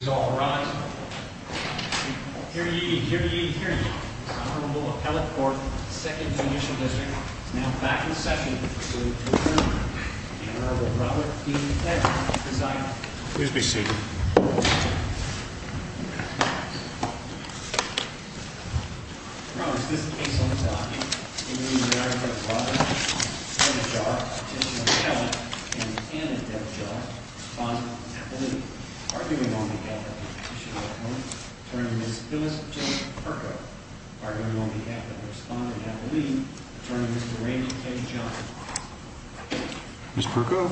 Here ye, here ye, here ye, this Honorable Appellate Court of the 2nd Judicial District is now back in session to conclude the hearing. The Honorable Robert E. Fletcher is presiding. Please be seated. Ms. Perko,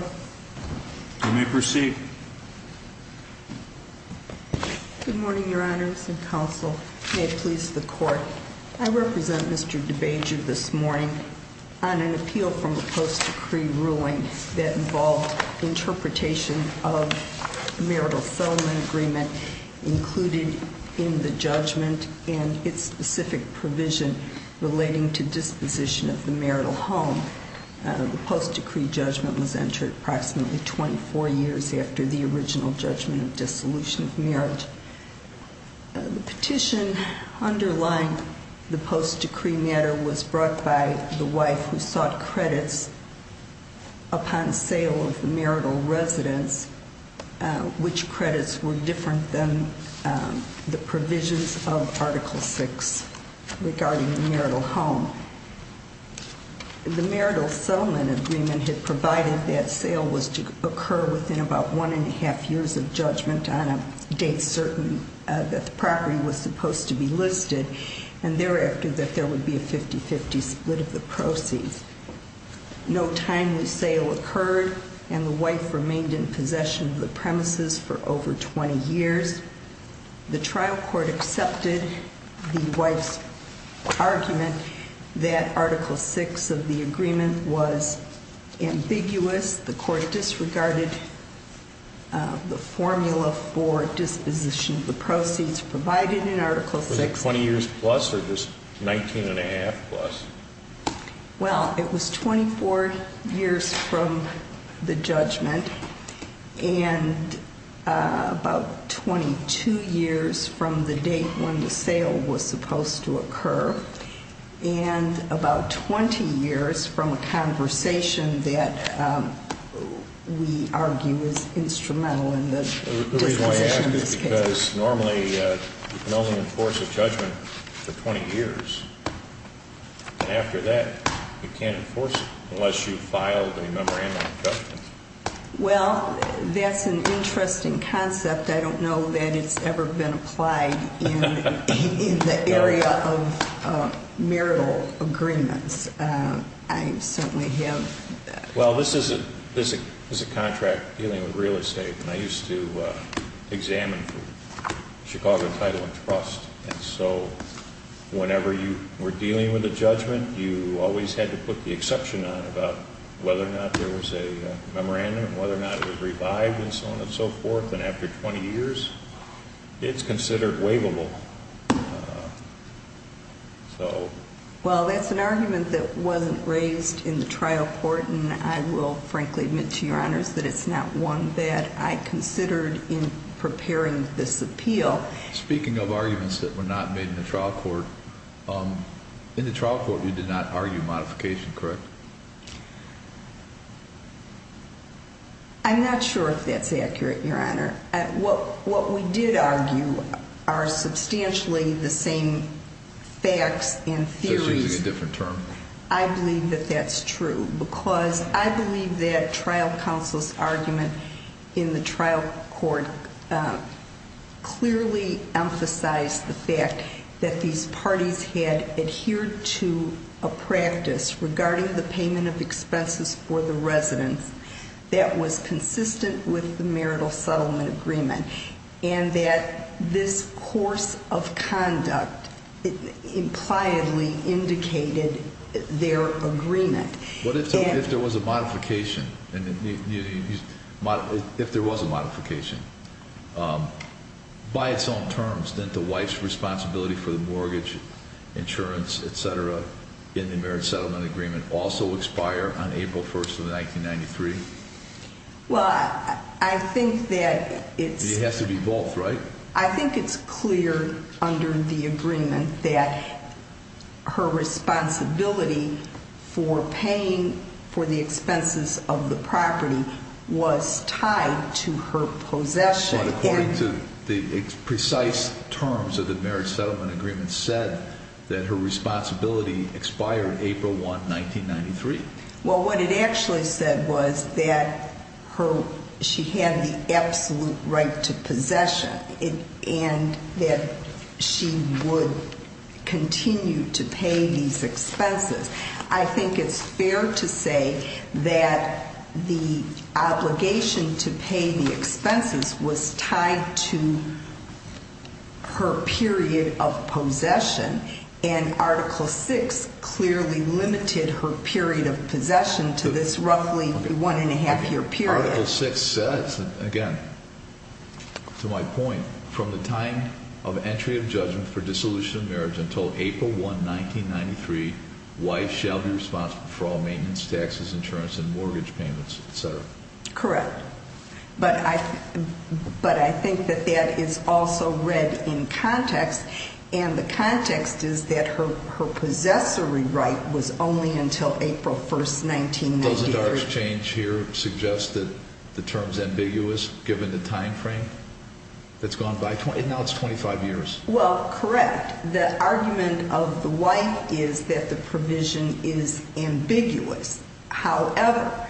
you may proceed. Good morning, Your Honors and Counsel. May it please the Court. I represent Mr. DeBejar this morning on an appeal from a post-decree ruling that involved interpretation of the marital settlement agreement included in the judgment and its specific provision relating to disposition of the marital home. The post-decree judgment was entered approximately 24 years after the original judgment of dissolution of marriage. The petition underlying the post-decree matter was brought by the wife who sought credits upon sale of the marital residence, which credits were different than the provisions of Article VI regarding the marital home. The marital settlement agreement had provided that sale was to occur within about one and a half years of judgment on a date certain that the property was supposed to be listed and thereafter that there would be a 50-50 split of the proceeds. No timely sale occurred and the wife remained in possession of the premises for over 20 years. The trial court accepted the wife's argument that Article VI of the agreement was ambiguous. The court disregarded the formula for disposition of the proceeds provided in Article VI. Was it 20 years plus or just 19 and a half plus? Well, it was 24 years from the judgment and about 22 years from the date when the sale was supposed to occur and about 20 years from a conversation that we argue is instrumental in the disposition of this case. The reason I ask is because normally you can only enforce a judgment for 20 years and after that you can't enforce it unless you've filed a memorandum of judgment. Well, that's an interesting concept. I don't know that it's ever been applied in the area of marital agreements. I certainly have. Well, this is a contract dealing with real estate and I used to examine Chicago Title and Trust and so whenever you were dealing with a judgment, you always had to put the exception on about whether or not there was a memorandum, whether or not it was revived and so on and so forth and after 20 years, it's considered waivable. Well, that's an argument that wasn't raised in the trial court and I will frankly admit to your honors that it's not one that I considered in preparing this appeal. Speaking of arguments that were not made in the trial court, in the trial court you did not argue modification, correct? I'm not sure if that's accurate, your honor. What we did argue are substantially the same facts and theories. So she's using a different term? I believe that that's true because I believe that trial counsel's argument in the trial court clearly emphasized the fact that these parties had adhered to a practice regarding the payment of expenses for the residents that was consistent with the marital settlement agreement and that this course of conduct impliedly indicated their agreement. What if there was a modification? If there was a modification, by its own terms, didn't the wife's responsibility for the mortgage, insurance, etc. in the marital settlement agreement also expire on April 1st of 1993? Well, I think that it's... It has to be both, right? I think it's clear under the agreement that her responsibility for paying for the expenses of the property was tied to her possession. But according to the precise terms of the marriage settlement agreement said that her responsibility expired April 1, 1993. Well, what it actually said was that she had the absolute right to possession and that she would continue to pay these expenses. I think it's fair to say that the obligation to pay the expenses was tied to her period of possession and Article VI clearly limited her period of possession to this roughly one and a half year period. Article VI says, again, to my point, from the time of entry of judgment for dissolution of marriage until April 1, 1993, wife shall be responsible for all maintenance, taxes, insurance, and mortgage payments, etc. Correct. But I think that that is also read in context and the context is that her possessory right was only until April 1st, 1993. But doesn't our exchange here suggest that the term is ambiguous given the time frame that's gone by? Now it's 25 years. Well, correct. The argument of the wife is that the provision is ambiguous. However,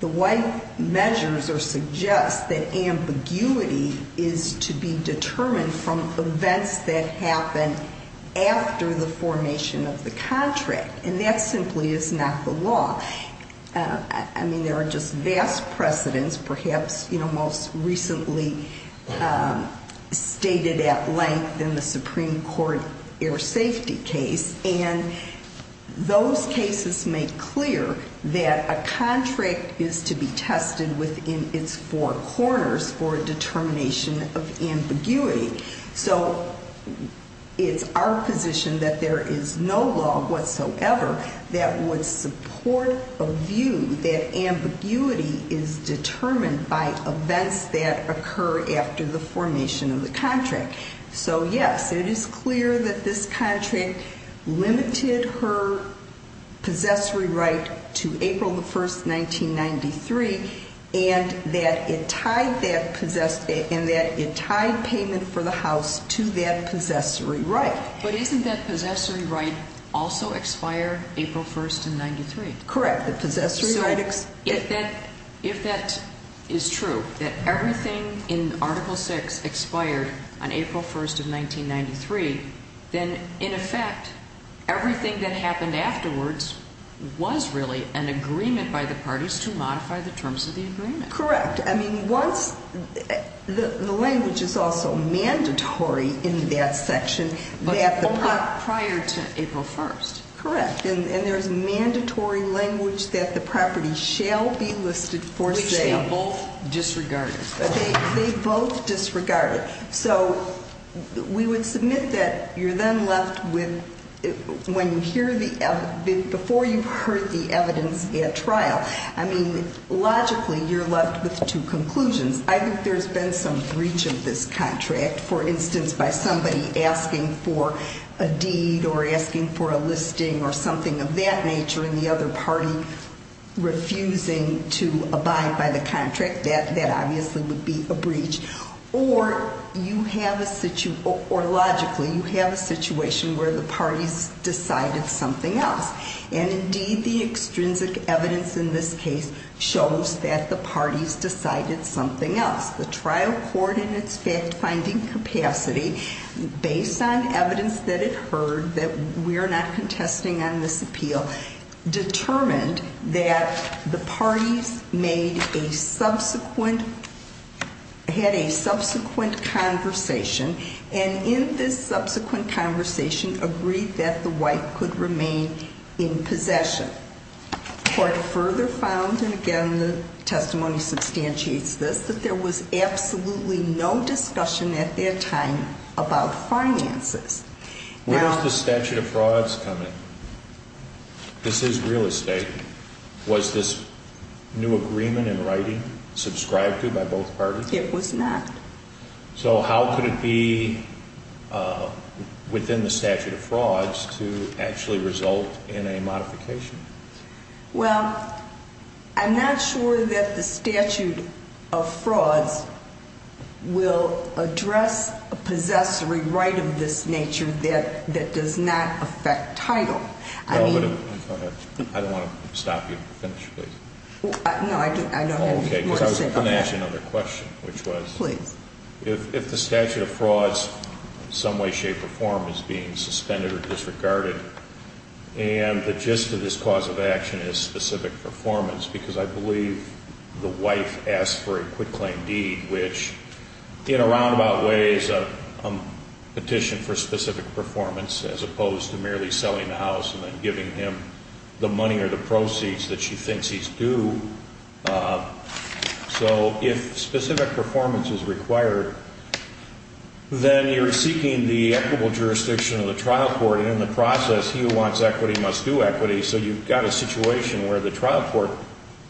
the wife measures or suggests that ambiguity is to be determined from events that happened after the formation of the contract. And that simply is not the law. I mean, there are just vast precedents, perhaps most recently stated at length in the Supreme Court air safety case. And those cases make clear that a contract is to be tested within its four corners for a determination of ambiguity. So it's our position that there is no law whatsoever that would support a view that ambiguity is determined by events that occur after the formation of the contract. So, yes, it is clear that this contract limited her possessory right to April 1st, 1993, and that it tied payment for the house to that possessory right. But isn't that possessory right also expire April 1st, 1993? Correct. The possessory right... So if that is true, that everything in Article VI expired on April 1st of 1993, then in effect, everything that happened afterwards was really an agreement by the parties to modify the terms of the agreement. Correct. I mean, once the language is also mandatory in that section that the... But only prior to April 1st. Correct. And there's mandatory language that the property shall be listed for sale. Which they both disregarded. They both disregarded. So we would submit that you're then left with, when you hear the, before you've heard the evidence at trial, I mean, logically, you're left with two conclusions. I think there's been some breach of this contract, for instance, by somebody asking for a deed or asking for a listing or something of that nature, and the other party refusing to abide by the contract. That obviously would be a breach. Or you have a situation, or logically, you have a situation where the parties decided something else. And indeed, the extrinsic evidence in this case shows that the parties decided something else. The trial court, in its fact-finding capacity, based on evidence that it heard that we're not contesting on this appeal, determined that the parties made a subsequent, had a subsequent conversation. And in this subsequent conversation, agreed that the white could remain in possession. The court further found, and again, the testimony substantiates this, that there was absolutely no discussion at that time about finances. Where does the statute of frauds come in? This is real estate. Was this new agreement in writing subscribed to by both parties? It was not. So how could it be within the statute of frauds to actually result in a modification? Well, I'm not sure that the statute of frauds will address a possessory right of this nature that does not affect title. I mean... Go ahead. I don't want to stop you. Finish, please. No, I don't have anything more to say about that. Okay, because I was going to ask you another question, which was... Please. If the statute of frauds, in some way, shape, or form, is being suspended or disregarded, and the gist of this cause of action is specific performance, because I believe the wife asked for a quitclaim deed, which, in a roundabout way, is a petition for specific performance, as opposed to merely selling the house and then giving him the money or the proceeds that she thinks he's due. So if specific performance is required, then you're seeking the equitable jurisdiction of the trial court. And in the process, he who wants equity must do equity. So you've got a situation where the trial court,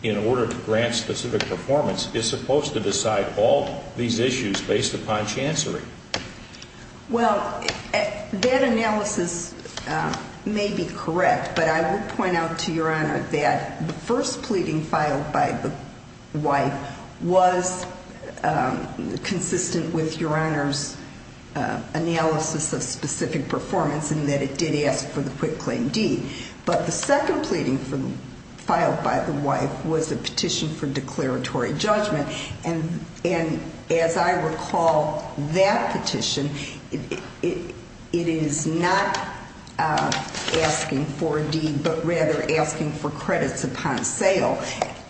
in order to grant specific performance, is supposed to decide all these issues based upon chancery. Well, that analysis may be correct. But I will point out to Your Honor that the first pleading filed by the wife was consistent with Your Honor's analysis of specific performance, in that it did ask for the quitclaim deed. But the second pleading filed by the wife was a petition for declaratory judgment. And as I recall that petition, it is not asking for a deed, but rather asking for credits upon sale.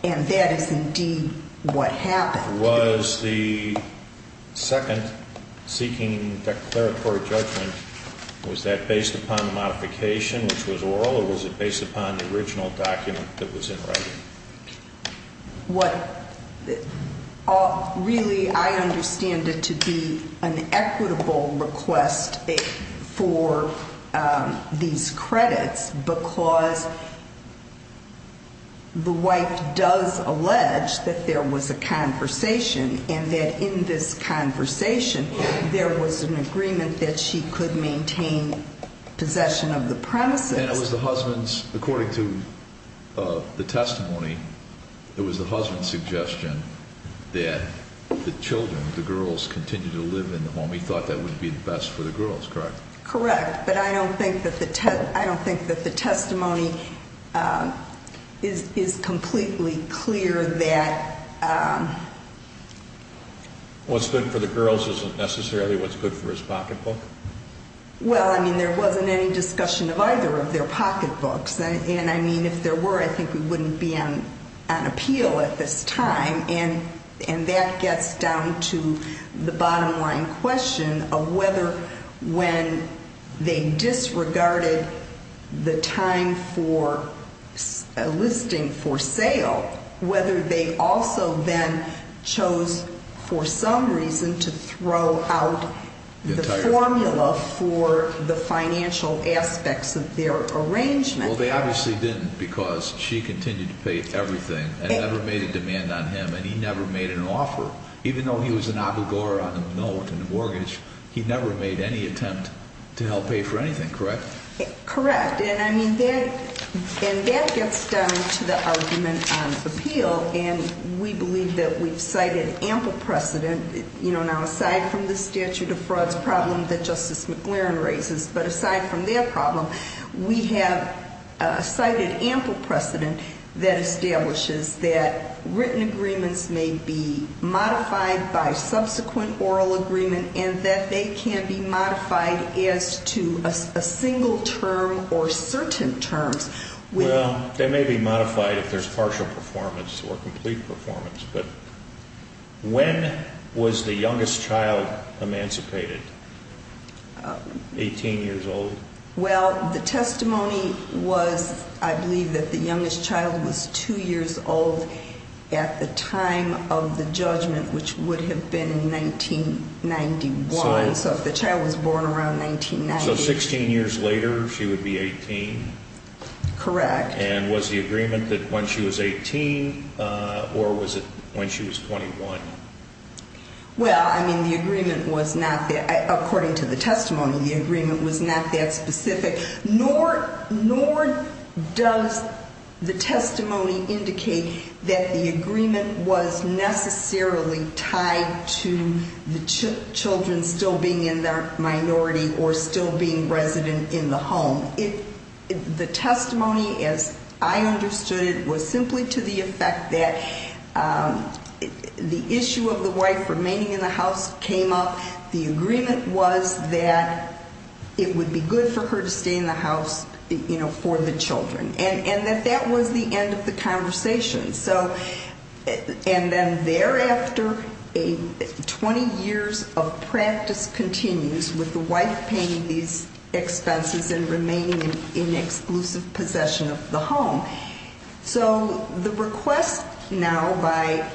And that is indeed what happened. Was the second seeking declaratory judgment, was that based upon modification, which was oral, or was it based upon the original document that was in writing? What really I understand it to be an equitable request for these credits because the wife does allege that there was a conversation, and that in this conversation, there was an agreement that she could maintain possession of the premises. And it was the husband's, according to the testimony, it was the husband's suggestion that the children, the girls, continue to live in the home. He thought that would be the best for the girls, correct? Correct. But I don't think that the testimony is completely clear that- What's good for the girls isn't necessarily what's good for his pocketbook? Well, I mean, there wasn't any discussion of either of their pocketbooks. And I mean, if there were, I think we wouldn't be on appeal at this time. And that gets down to the bottom line question of whether when they disregarded the time for a listing for sale, whether they also then chose for some reason to throw out the formula for the financial aspects of their arrangement. Well, they obviously didn't because she continued to pay everything and never made a demand on him, and he never made an offer. Even though he was an obligor on a note and a mortgage, he never made any attempt to help pay for anything, correct? Correct. And I mean, that gets down to the argument on appeal, and we believe that we've cited ample precedent. Now, aside from the statute of frauds problem that Justice McLaren raises, but aside from their problem, we have cited ample precedent that establishes that written agreements may be modified by subsequent oral agreement and that they can be modified as to a single term or certain terms. Well, they may be modified if there's partial performance or complete performance, but when was the youngest child emancipated, 18 years old? Well, the testimony was I believe that the youngest child was 2 years old at the time of the judgment, which would have been 1991. So if the child was born around 1990. So 16 years later, she would be 18? Correct. And was the agreement that when she was 18 or was it when she was 21? Well, I mean, the agreement was not, according to the testimony, the agreement was not that specific, nor does the testimony indicate that the agreement was necessarily tied to the children still being in their minority or still being resident in the home. The testimony, as I understood it, was simply to the effect that the issue of the wife remaining in the house came up. The agreement was that it would be good for her to stay in the house for the children and that that was the end of the conversation. And then thereafter, 20 years of practice continues with the wife paying these expenses and remaining in exclusive possession of the home. So the request now by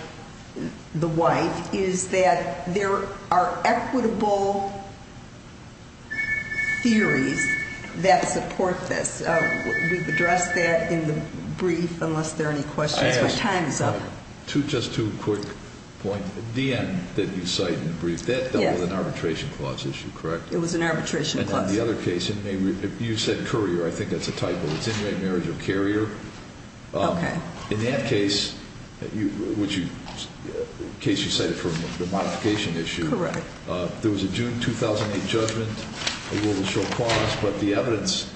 the wife is that there are equitable theories that support this. We've addressed that in the brief, unless there are any questions. My time is up. Just two quick points. The DM that you cite in the brief, that was an arbitration clause issue, correct? It was an arbitration clause. And on the other case, you said courier. I think that's a typo. It's inmate marriage or carrier. Okay. In that case, the case you cited for the modification issue. Correct. There was a June 2008 judgment, a rule of show clause. But the evidence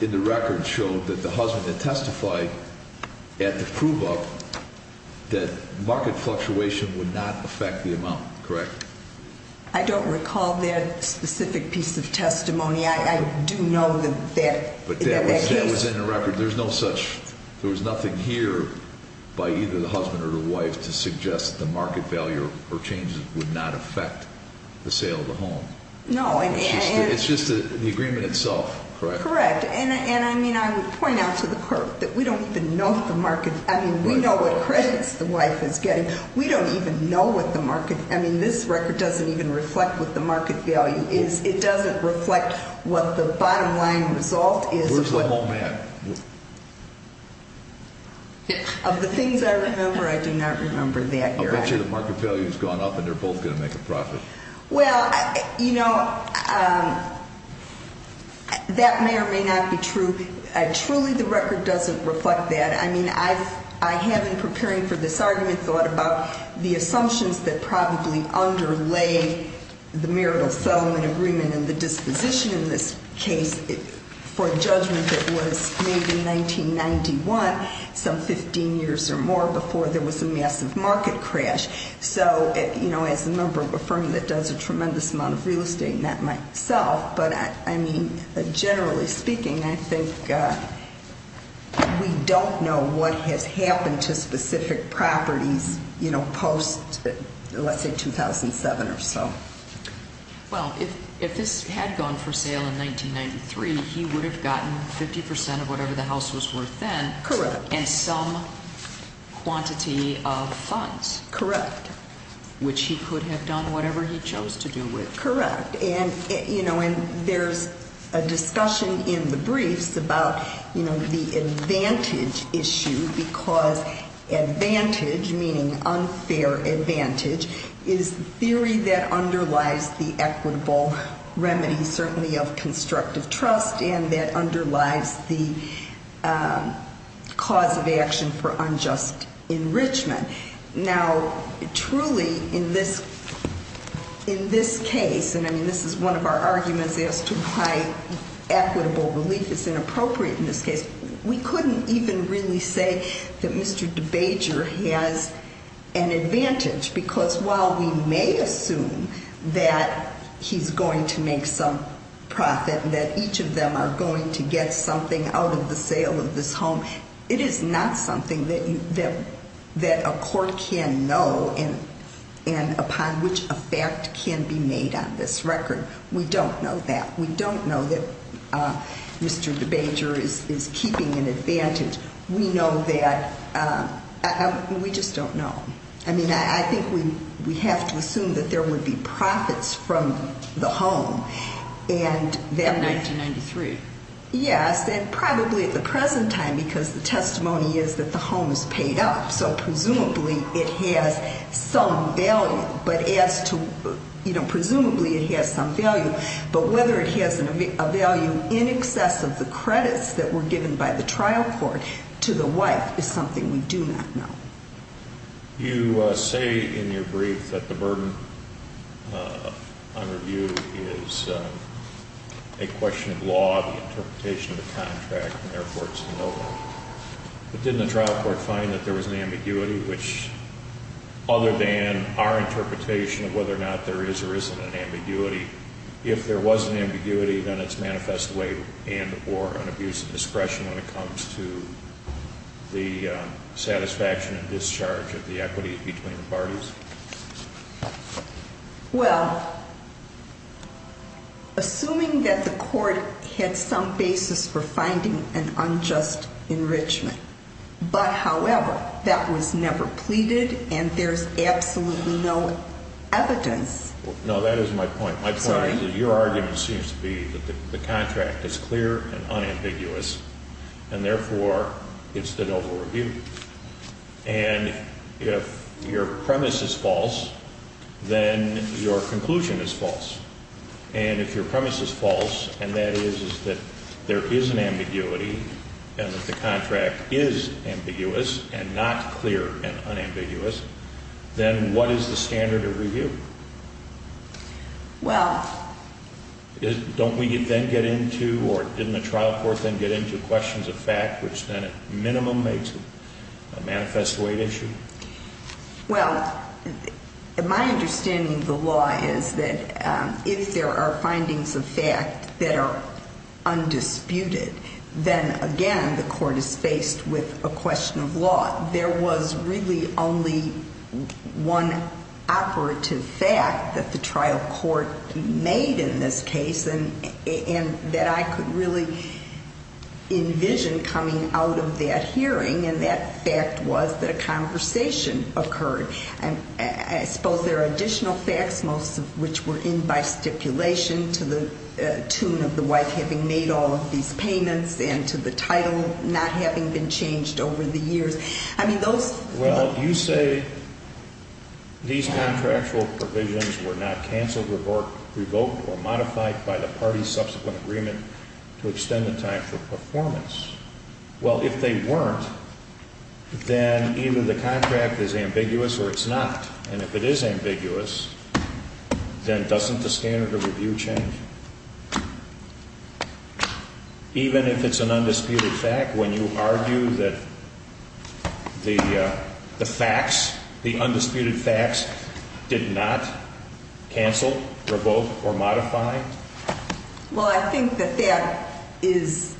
in the record showed that the husband had testified at the prove up that market fluctuation would not affect the amount, correct? I don't recall that specific piece of testimony. I do know that that case- There was nothing here by either the husband or the wife to suggest that the market value or changes would not affect the sale of the home. No. It's just the agreement itself, correct? Correct. And, I mean, I would point out to the court that we don't even know the market. I mean, we know what credits the wife is getting. We don't even know what the market. I mean, this record doesn't even reflect what the market value is. It doesn't reflect what the bottom line result is. Of the things I remember, I do not remember that. I bet you the market value has gone up and they're both going to make a profit. Well, you know, that may or may not be true. Truly, the record doesn't reflect that. I mean, I have, in preparing for this argument, thought about the assumptions that probably underlay the marital settlement agreement and the disposition in this case. For a judgment that was made in 1991, some 15 years or more before there was a massive market crash. So, you know, as a member of a firm that does a tremendous amount of real estate, not myself. But, I mean, generally speaking, I think we don't know what has happened to specific properties, you know, post, let's say, 2007 or so. Well, if this had gone for sale in 1993, he would have gotten 50% of whatever the house was worth then. Correct. And some quantity of funds. Correct. Which he could have done whatever he chose to do with. Correct. And, you know, there's a discussion in the briefs about, you know, the advantage issue. Because advantage, meaning unfair advantage, is a theory that underlies the equitable remedy, certainly of constructive trust. And that underlies the cause of action for unjust enrichment. Now, truly, in this case, and, I mean, this is one of our arguments as to why equitable relief is inappropriate in this case, we couldn't even really say that Mr. DeBager has an advantage. Because while we may assume that he's going to make some profit, that each of them are going to get something out of the sale of this home, it is not something that a court can know and upon which a fact can be made on this record. We don't know that. We don't know that Mr. DeBager is keeping an advantage. We know that. We just don't know. I mean, I think we have to assume that there would be profits from the home. In 1993. Yes, and probably at the present time, because the testimony is that the home is paid up. So presumably it has some value. But as to, you know, presumably it has some value. But whether it has a value in excess of the credits that were given by the trial court to the wife is something we do not know. You say in your brief that the burden on review is a question of law, the interpretation of the contract, and therefore it's a no vote. But didn't the trial court find that there was an ambiguity, which other than our interpretation of whether or not there is or isn't an ambiguity, if there was an ambiguity, then it's manifest way and or an abuse of discretion when it comes to the satisfaction and discharge of the equity between the parties? Well, assuming that the court had some basis for finding an unjust enrichment, but however, that was never pleaded and there's absolutely no evidence. No, that is my point. My point is that your argument seems to be that the contract is clear and unambiguous. And therefore, it's the noble review. And if your premise is false, then your conclusion is false. And if your premise is false, and that is that there is an ambiguity and that the contract is ambiguous and not clear and unambiguous, then what is the standard of review? Well. Don't we then get into, or didn't the trial court then get into questions of fact, which then at minimum makes it a manifest way issue? Well, my understanding of the law is that if there are findings of fact that are undisputed, then again, the court is faced with a question of law. There was really only one operative fact that the trial court made in this case and that I could really envision coming out of that hearing, and that fact was that a conversation occurred. I suppose there are additional facts, most of which were in by stipulation to the tune of the wife having made all of these payments and to the title not having been changed over the years. I mean, those. Well, you say these contractual provisions were not canceled, revoked, or modified by the party's subsequent agreement to extend the time for performance. Well, if they weren't, then either the contract is ambiguous or it's not, and if it is ambiguous, then doesn't the standard of review change? Even if it's an undisputed fact, when you argue that the facts, the undisputed facts did not cancel, revoke, or modify? Well, I think that that is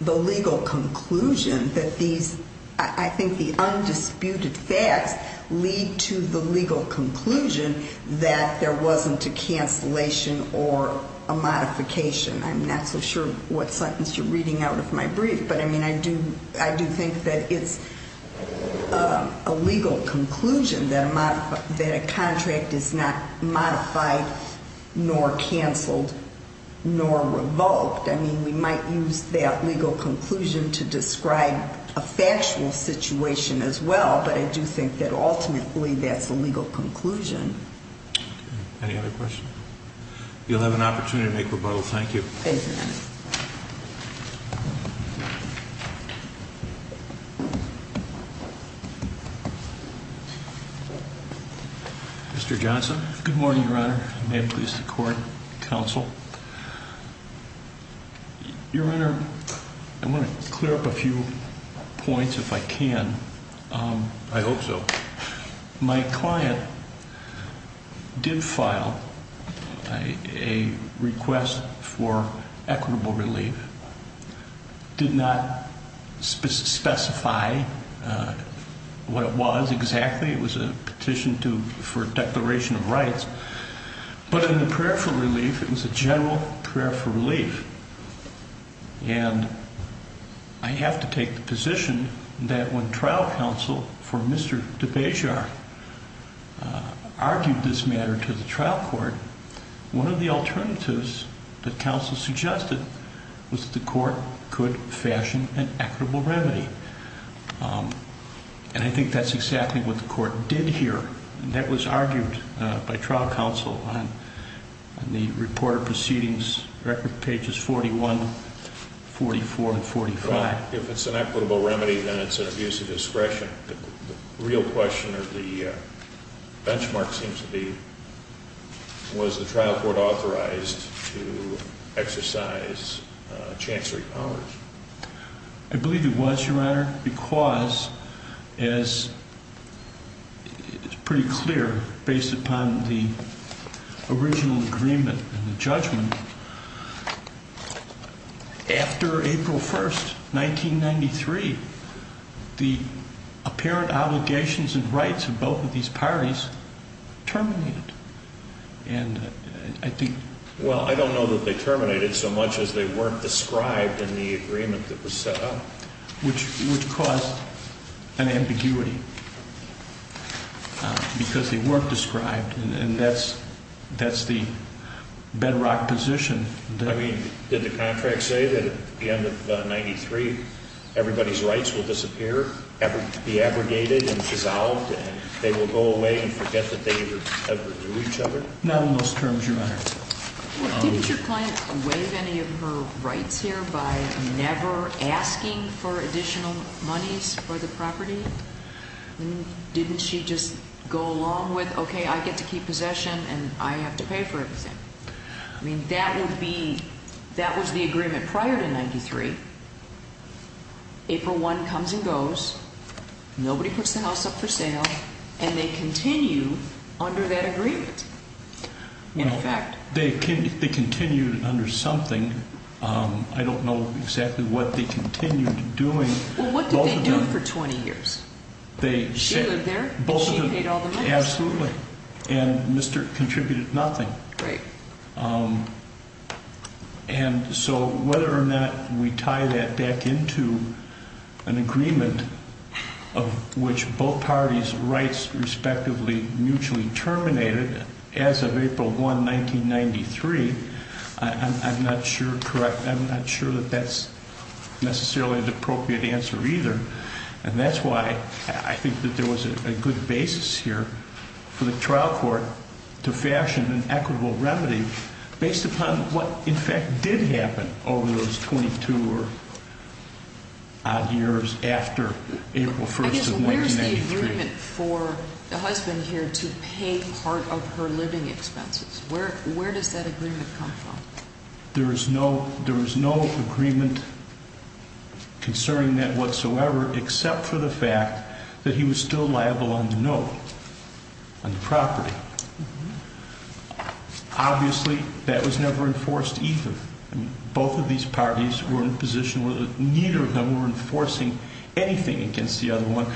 the legal conclusion that these, I think the undisputed facts lead to the legal conclusion that there wasn't a cancellation or a modification. I'm not so sure what sentence you're reading out of my brief, but I mean, I do think that it's a legal conclusion that a contract is not modified nor canceled nor revoked. I mean, we might use that legal conclusion to describe a factual situation as well, but I do think that ultimately that's the legal conclusion. Any other questions? You'll have an opportunity to make rebuttals. Thank you. Thank you, Your Honor. Mr. Johnson. Good morning, Your Honor. May it please the court, counsel. Your Honor, I want to clear up a few points if I can. I hope so. My client did file a request for equitable relief, did not specify what it was exactly. It was a petition for a declaration of rights. But in the prayer for relief, it was a general prayer for relief. And I have to take the position that when trial counsel for Mr. DeBejar argued this matter to the trial court, one of the alternatives that counsel suggested was the court could fashion an equitable remedy. And I think that's exactly what the court did here. That was argued by trial counsel on the report of proceedings, record pages 41, 44, and 45. If it's an equitable remedy, then it's an abuse of discretion. The real question or the benchmark seems to be, was the trial court authorized to exercise chancellery powers? I believe it was, Your Honor, because as it's pretty clear based upon the original agreement and the judgment, after April 1st, 1993, the apparent obligations and rights of both of these parties terminated. Well, I don't know that they terminated so much as they weren't described in the agreement that was set up. Which caused an ambiguity because they weren't described. And that's the bedrock position. I mean, did the contract say that at the end of 93, everybody's rights will disappear, be abrogated and dissolved, and they will go away and forget that they ever knew each other? Not in those terms, Your Honor. Didn't your client waive any of her rights here by never asking for additional monies for the property? Didn't she just go along with, okay, I get to keep possession and I have to pay for everything? I mean, that would be, that was the agreement prior to 93. April 1 comes and goes. Nobody puts the house up for sale. And they continue under that agreement. In effect. They continued under something. I don't know exactly what they continued doing. Well, what did they do for 20 years? She lived there and she paid all the money. Absolutely. And Mr. contributed nothing. Right. And so whether or not we tie that back into an agreement of which both parties' rights respectively mutually terminated as of April 1, 1993, I'm not sure that that's necessarily an appropriate answer either. And that's why I think that there was a good basis here for the trial court to fashion an equitable remedy based upon what, in fact, did happen over those 22 odd years after April 1 of 1993. I guess where's the agreement for the husband here to pay part of her living expenses? Where does that agreement come from? There was no agreement concerning that whatsoever except for the fact that he was still liable on the note on the property. Obviously, that was never enforced either. Both of these parties were in a position where neither of them were enforcing anything against the other one.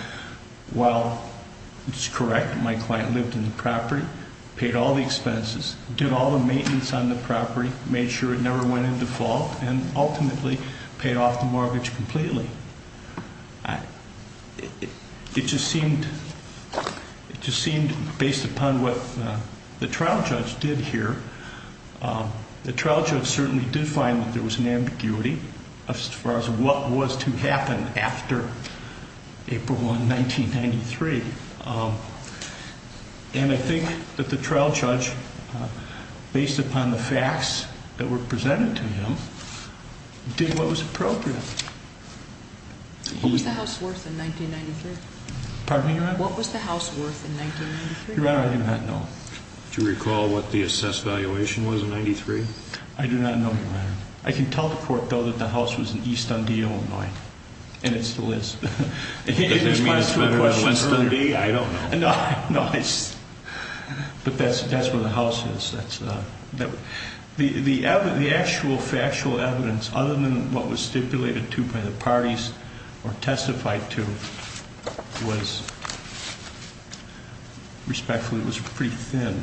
Well, it's correct. My client lived in the property, paid all the expenses, did all the maintenance on the property, made sure it never went into fault, and ultimately paid off the mortgage completely. It just seemed, based upon what the trial judge did here, the trial judge certainly did find that there was an ambiguity as far as what was to happen after April 1, 1993. And I think that the trial judge, based upon the facts that were presented to him, did what was appropriate. What was the house worth in 1993? Pardon me, Your Honor? What was the house worth in 1993? Your Honor, I do not know. Do you recall what the assessed valuation was in 1993? I do not know, Your Honor. I can tell the court, though, that the house was in East Undeal, Illinois. And it still is. Does that mean it's better than Winston? I don't know. No, it's... But that's where the house is. The actual factual evidence, other than what was stipulated to by the parties or testified to, was... Respectfully, it was pretty thin.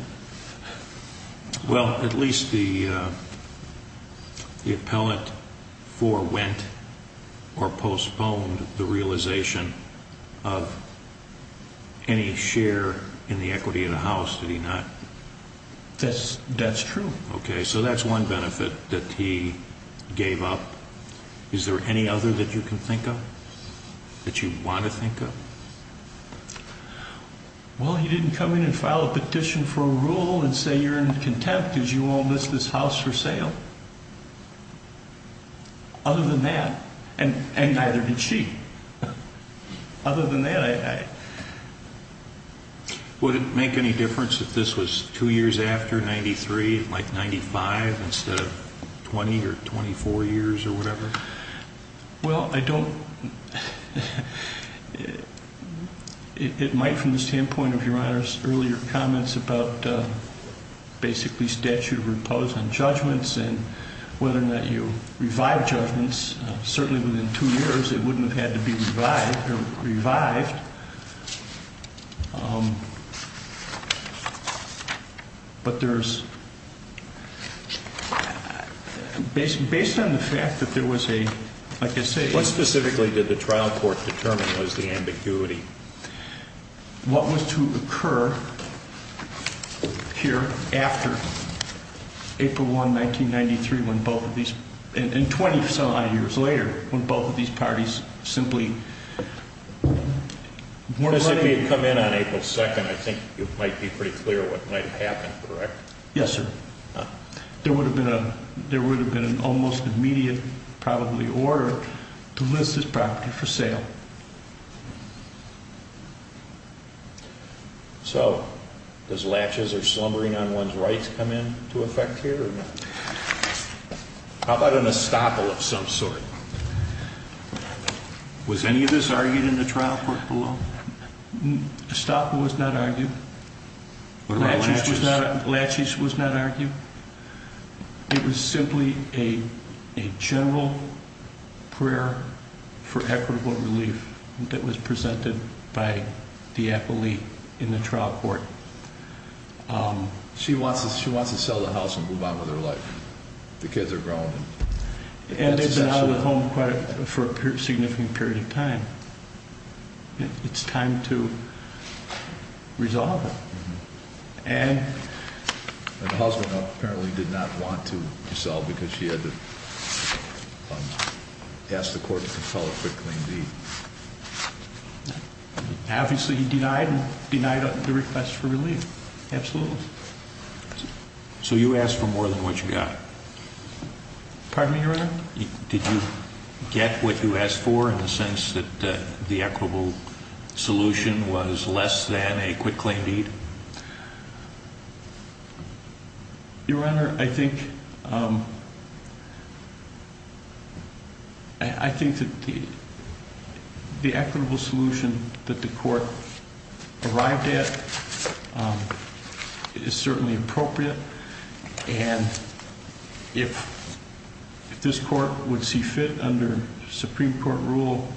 Well, at least the appellant forewent or postponed the realization of any share in the equity of the house, did he not? That's true. Okay, so that's one benefit that he gave up. Is there any other that you can think of, that you want to think of? Well, he didn't come in and file a petition for a rule and say, You're in contempt because you won't list this house for sale. Other than that, and neither did she. Other than that, I... Would it make any difference if this was two years after 93, like 95, instead of 20 or 24 years or whatever? Well, I don't... It might from the standpoint of Your Honor's earlier comments about basically statute of repose on judgments and whether or not you revive judgments. Certainly within two years, it wouldn't have had to be revived. But there's... Based on the fact that there was a, like I say... What specifically did the trial court determine was the ambiguity? What was to occur here after April 1, 1993, when both of these... And 20-some odd years later, when both of these parties simply weren't running... Because if he had come in on April 2nd, I think you might be pretty clear what might have happened, correct? Yes, sir. There would have been an almost immediate, probably, order to list this property for sale. So does latches or slumbering on one's rights come into effect here or not? How about an estoppel of some sort? Was any of this argued in the trial court below? Estoppel was not argued. What about latches? Latches was not argued. It was simply a general prayer for equitable relief that was presented by the appellee in the trial court. She wants to sell the house and move on with her life. The kids are grown. And they've been out of the home for a significant period of time. It's time to resolve it. And the husband apparently did not want to sell because she had to ask the court to file a quick clean deed. Obviously, he denied the request for relief. Absolutely. So you asked for more than what you got. Pardon me, Your Honor? Did you get what you asked for in the sense that the equitable solution was less than a quick clean deed? Your Honor, I think that the equitable solution that the court arrived at is certainly appropriate. And if this court would see fit under Supreme Court Rule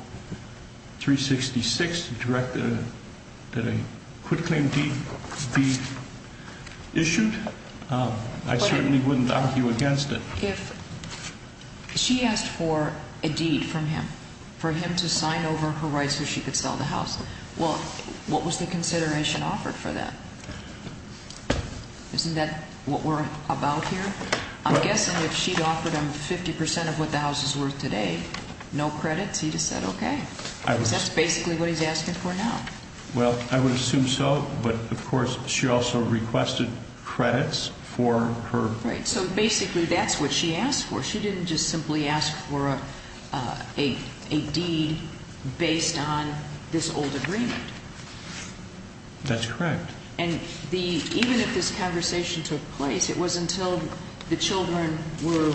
366 to direct that a quick clean deed be issued, I certainly wouldn't argue against it. If she asked for a deed from him, for him to sign over her rights so she could sell the house, well, what was the consideration offered for that? Isn't that what we're about here? I'm guessing if she'd offered him 50% of what the house is worth today, no credits, he'd have said okay. Because that's basically what he's asking for now. Well, I would assume so. But, of course, she also requested credits for her- Right, so basically that's what she asked for. She didn't just simply ask for a deed based on this old agreement. That's correct. And even if this conversation took place, it was until the children were,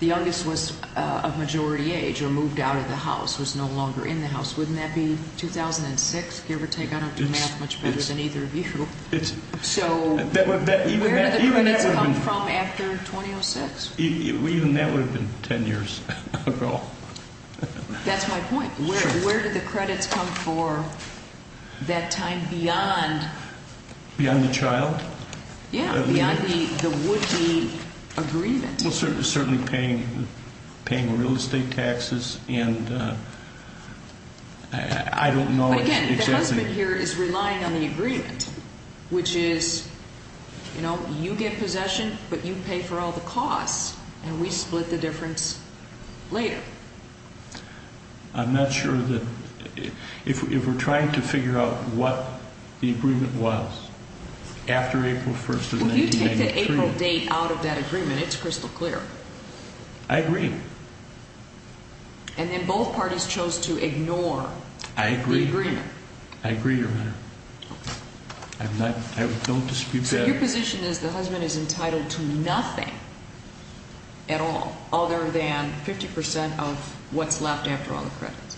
the youngest was of majority age or moved out of the house, was no longer in the house. Wouldn't that be 2006, give or take? I don't do math much better than either of you. So where did the credits come from after 2006? Even that would have been ten years ago. That's my point. Where did the credits come for that time beyond- Beyond the child? Yeah, beyond the would-be agreement. Well, certainly paying real estate taxes, and I don't know exactly- But again, the husband here is relying on the agreement, which is you get possession, but you pay for all the costs, and we split the difference later. I'm not sure that, if we're trying to figure out what the agreement was after April 1st of 1993- Well, you take the April date out of that agreement. It's crystal clear. I agree. And then both parties chose to ignore the agreement. I agree, Your Honor. I don't dispute that. So your position is the husband is entitled to nothing at all other than 50% of what's left after all the credits.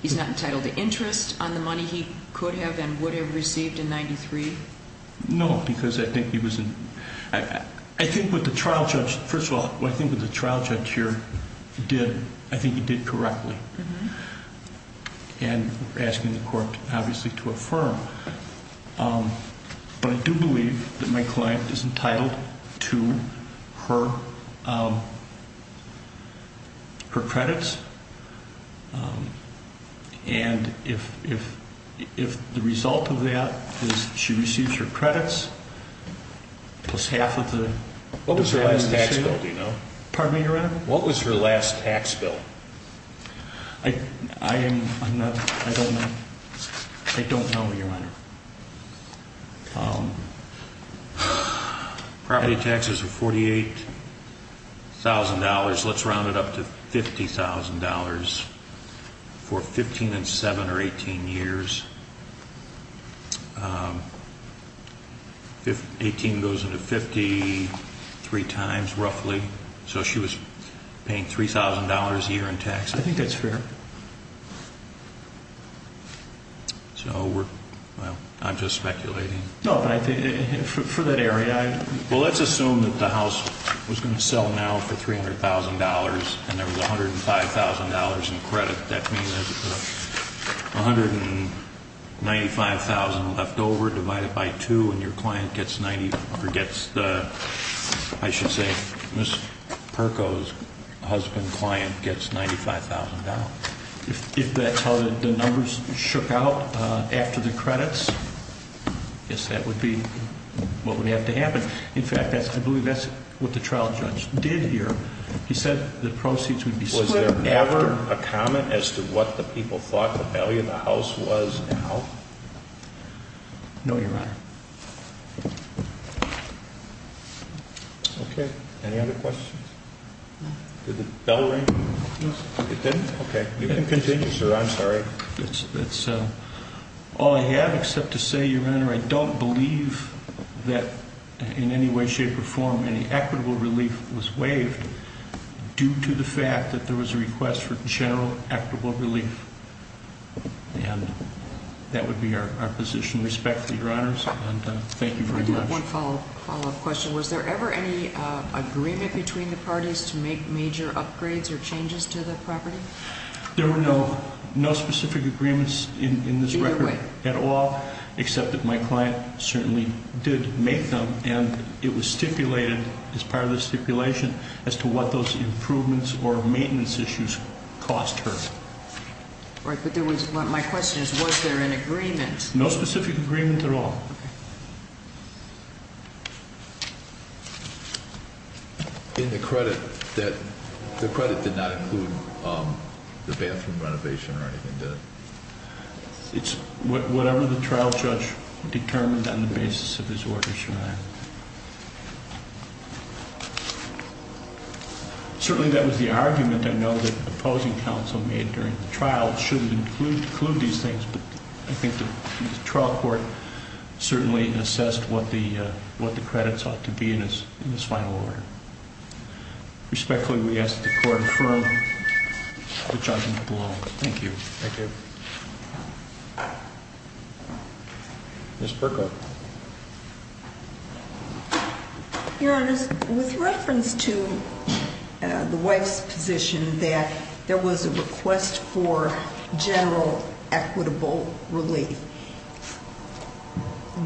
He's not entitled to interest on the money he could have and would have received in 1993? No, because I think he was- I think what the trial judge- First of all, what I think what the trial judge here did, I think he did correctly. And we're asking the court, obviously, to affirm. But I do believe that my client is entitled to her credits, and if the result of that is she receives her credits plus half of the- What was her last tax bill, do you know? Pardon me, Your Honor? What was her last tax bill? I'm not- I don't know. I don't know, Your Honor. Property taxes were $48,000. Let's round it up to $50,000 for 15 and 7 or 18 years. 18 goes into 50 three times, roughly. So she was paying $3,000 a year in taxes. I think that's fair. So we're- Well, I'm just speculating. No, but I think for that area- Well, let's assume that the house was going to sell now for $300,000 and there was $105,000 in credit. That means there's $195,000 left over divided by 2 and your client gets 90- or gets the- I should say Ms. Perko's husband client gets $95,000. If that's how the numbers shook out after the credits, I guess that would be what would have to happen. In fact, I believe that's what the trial judge did here. He said the proceeds would be split. Was there ever a comment as to what the people thought the value of the house was now? No, Your Honor. Okay. Any other questions? Did the bell ring? No, sir. It didn't? Okay. You can continue, sir. I'm sorry. That's all I have except to say, Your Honor, I don't believe that in any way, shape, or form any equitable relief was waived due to the fact that there was a request for general equitable relief. And that would be our position. Respectfully, Your Honors, and thank you very much. I do have one follow-up question. Was there ever any agreement between the parties to make major upgrades or changes to the property? There were no specific agreements in this record at all, except that my client certainly did make them. And it was stipulated, as part of the stipulation, as to what those improvements or maintenance issues cost her. Right. But my question is, was there an agreement? No specific agreement at all. Okay. In the credit, the credit did not include the bathroom renovation or anything, did it? It's whatever the trial judge determined on the basis of his orders, Your Honor. Certainly, that was the argument I know that the opposing counsel made during the trial. It shouldn't include these things, but I think the trial court certainly assessed what the credit sought to be in this final order. Respectfully, we ask that the court affirm the judgment below. Thank you. Thank you. Ms. Berko? Your Honor, with reference to the wife's position that there was a request for general equitable relief,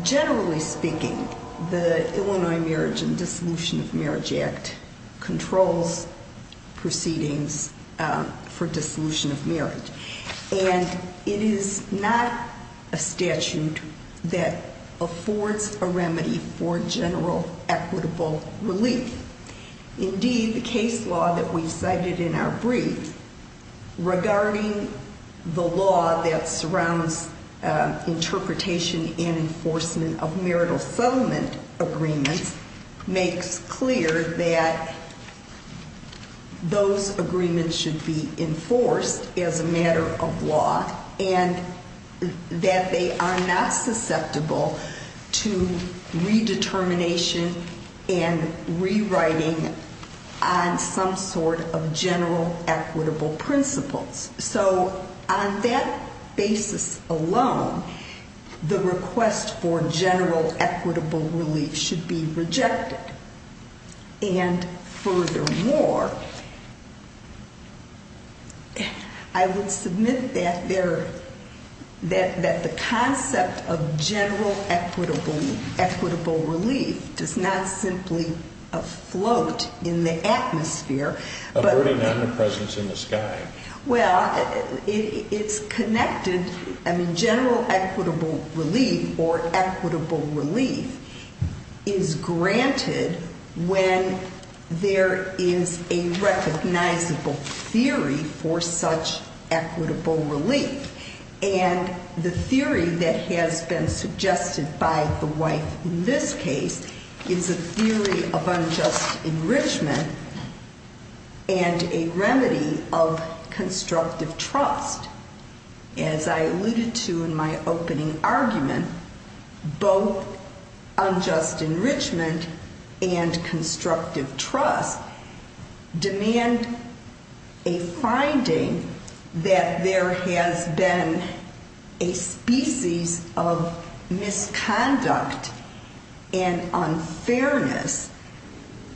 generally speaking, the Illinois Marriage and Dissolution of Marriage Act controls proceedings for dissolution of marriage. And it is not a statute that affords a remedy for general equitable relief. Indeed, the case law that we cited in our brief, regarding the law that surrounds interpretation and enforcement of marital settlement agreements, makes clear that those agreements should be enforced as a matter of law and that they are not susceptible to redetermination and rewriting on some sort of general equitable principles. So on that basis alone, the request for general equitable relief should be rejected. And furthermore, I would submit that the concept of general equitable relief does not simply afloat in the atmosphere. Averted omnipresence in the sky. Well, it's connected. I mean, general equitable relief or equitable relief is granted when there is a recognizable theory for such equitable relief. And the theory that has been suggested by the wife in this case is a theory of unjust enrichment and a remedy of constructive trust. As I alluded to in my opening argument, both unjust enrichment and constructive trust demand a finding that there has been a species of misconduct and unfairness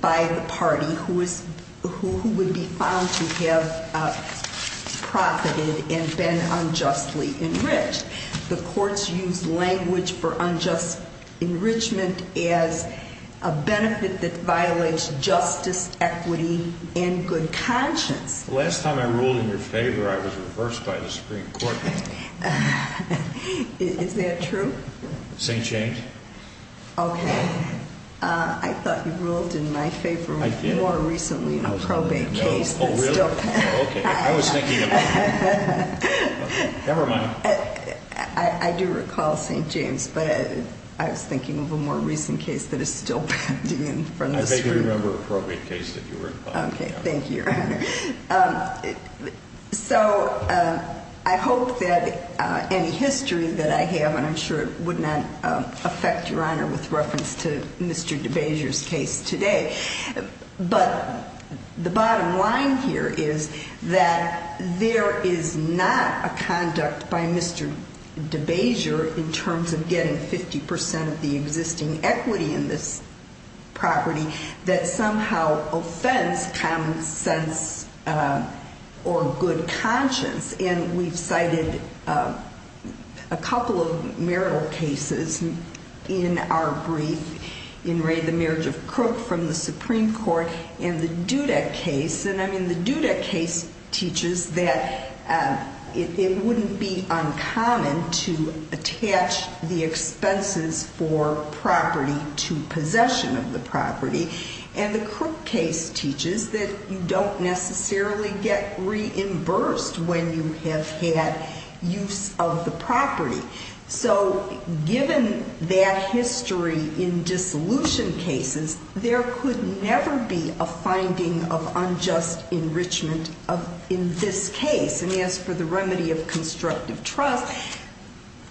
by the party who would be found to have profited and been unjustly enriched. The courts use language for unjust enrichment as a benefit that violates justice, equity, and good conscience. The last time I ruled in your favor, I was reversed by the Supreme Court. Is that true? St. James. Okay. I thought you ruled in my favor more recently in a probate case. Oh, really? Okay. I was thinking of... Never mind. I do recall St. James, but I was thinking of a more recent case that is still pounding in from the Supreme Court. I vaguely remember a probate case that you were involved in. Okay. Thank you, Your Honor. So I hope that any history that I have, and I'm sure it would not affect Your Honor with reference to Mr. DeBasier's case today. But the bottom line here is that there is not a conduct by Mr. DeBasier in terms of getting 50% of the existing equity in this property that somehow offends common sense or good conscience. And we've cited a couple of marital cases in our brief. In Ray, the marriage of Crook from the Supreme Court, and the Dudek case. And, I mean, the Dudek case teaches that it wouldn't be uncommon to attach the expenses for property to possession of the property. And the Crook case teaches that you don't necessarily get reimbursed when you have had use of the property. So given that history in dissolution cases, there could never be a finding of unjust enrichment in this case. And as for the remedy of constructive trust,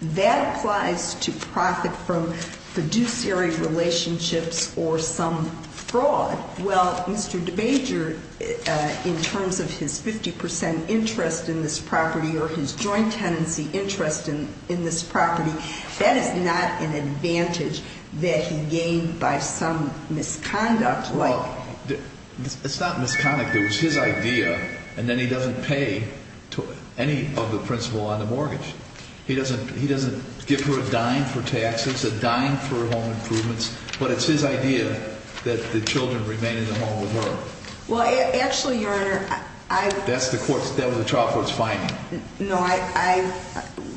that applies to profit from fiduciary relationships or some fraud. Well, Mr. DeBasier, in terms of his 50% interest in this property or his joint tenancy interest in this property, that is not an advantage that he gained by some misconduct. Well, it's not misconduct. It was his idea. And then he doesn't pay any of the principal on the mortgage. He doesn't give her a dime for taxes, a dime for home improvements. But it's his idea that the children remain in the home with her. Well, actually, Your Honor, I... That was the trial court's finding. No, I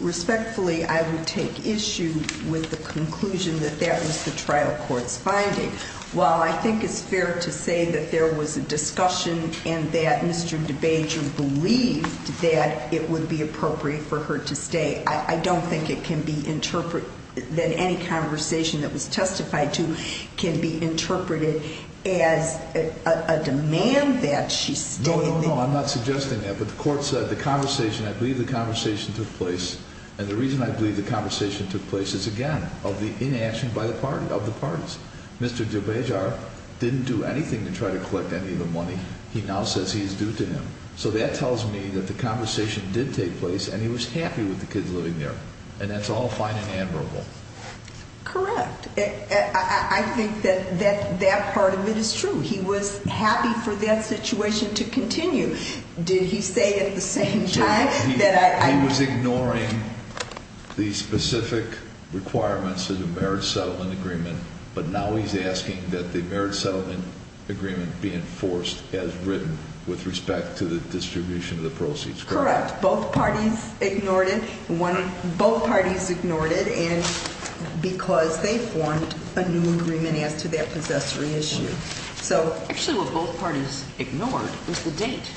respectfully, I would take issue with the conclusion that that was the trial court's finding. Well, I think it's fair to say that there was a discussion and that Mr. DeBasier believed that it would be appropriate for her to stay. I don't think it can be interpreted that any conversation that was testified to can be interpreted as a demand that she stay. No, no, no. I'm not suggesting that. But the court said the conversation, I believe the conversation took place. And the reason I believe the conversation took place is, again, of the inaction of the parties. Mr. DeBasier didn't do anything to try to collect any of the money. He now says he's due to him. So that tells me that the conversation did take place and he was happy with the kids living there. And that's all fine and admirable. Correct. I think that that part of it is true. He was happy for that situation to continue. Did he say at the same time that I... He was ignoring the specific requirements of the marriage settlement agreement, but now he's asking that the marriage settlement agreement be enforced as written with respect to the distribution of the proceeds. Correct. Both parties ignored it. Both parties ignored it because they formed a new agreement as to their possessory issue. Actually, what both parties ignored was the date.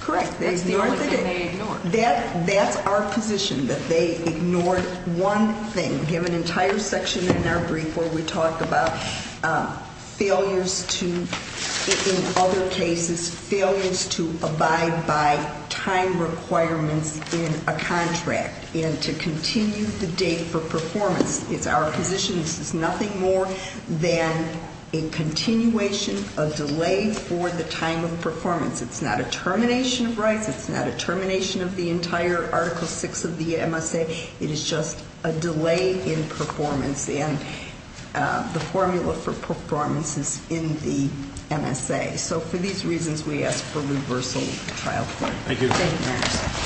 Correct. They ignored the date. That's our position, that they ignored one thing. We have an entire section in our brief where we talk about failures to, in other cases, failures to abide by time requirements in a contract and to continue the date for performance. It's our position this is nothing more than a continuation of delay for the time of performance. It's not a termination of rights. It's not a termination of the entire Article VI of the MSA. It is just a delay in performance and the formula for performance is in the MSA. So for these reasons, we ask for reversal of the trial court. Thank you. Thank you, Your Honor.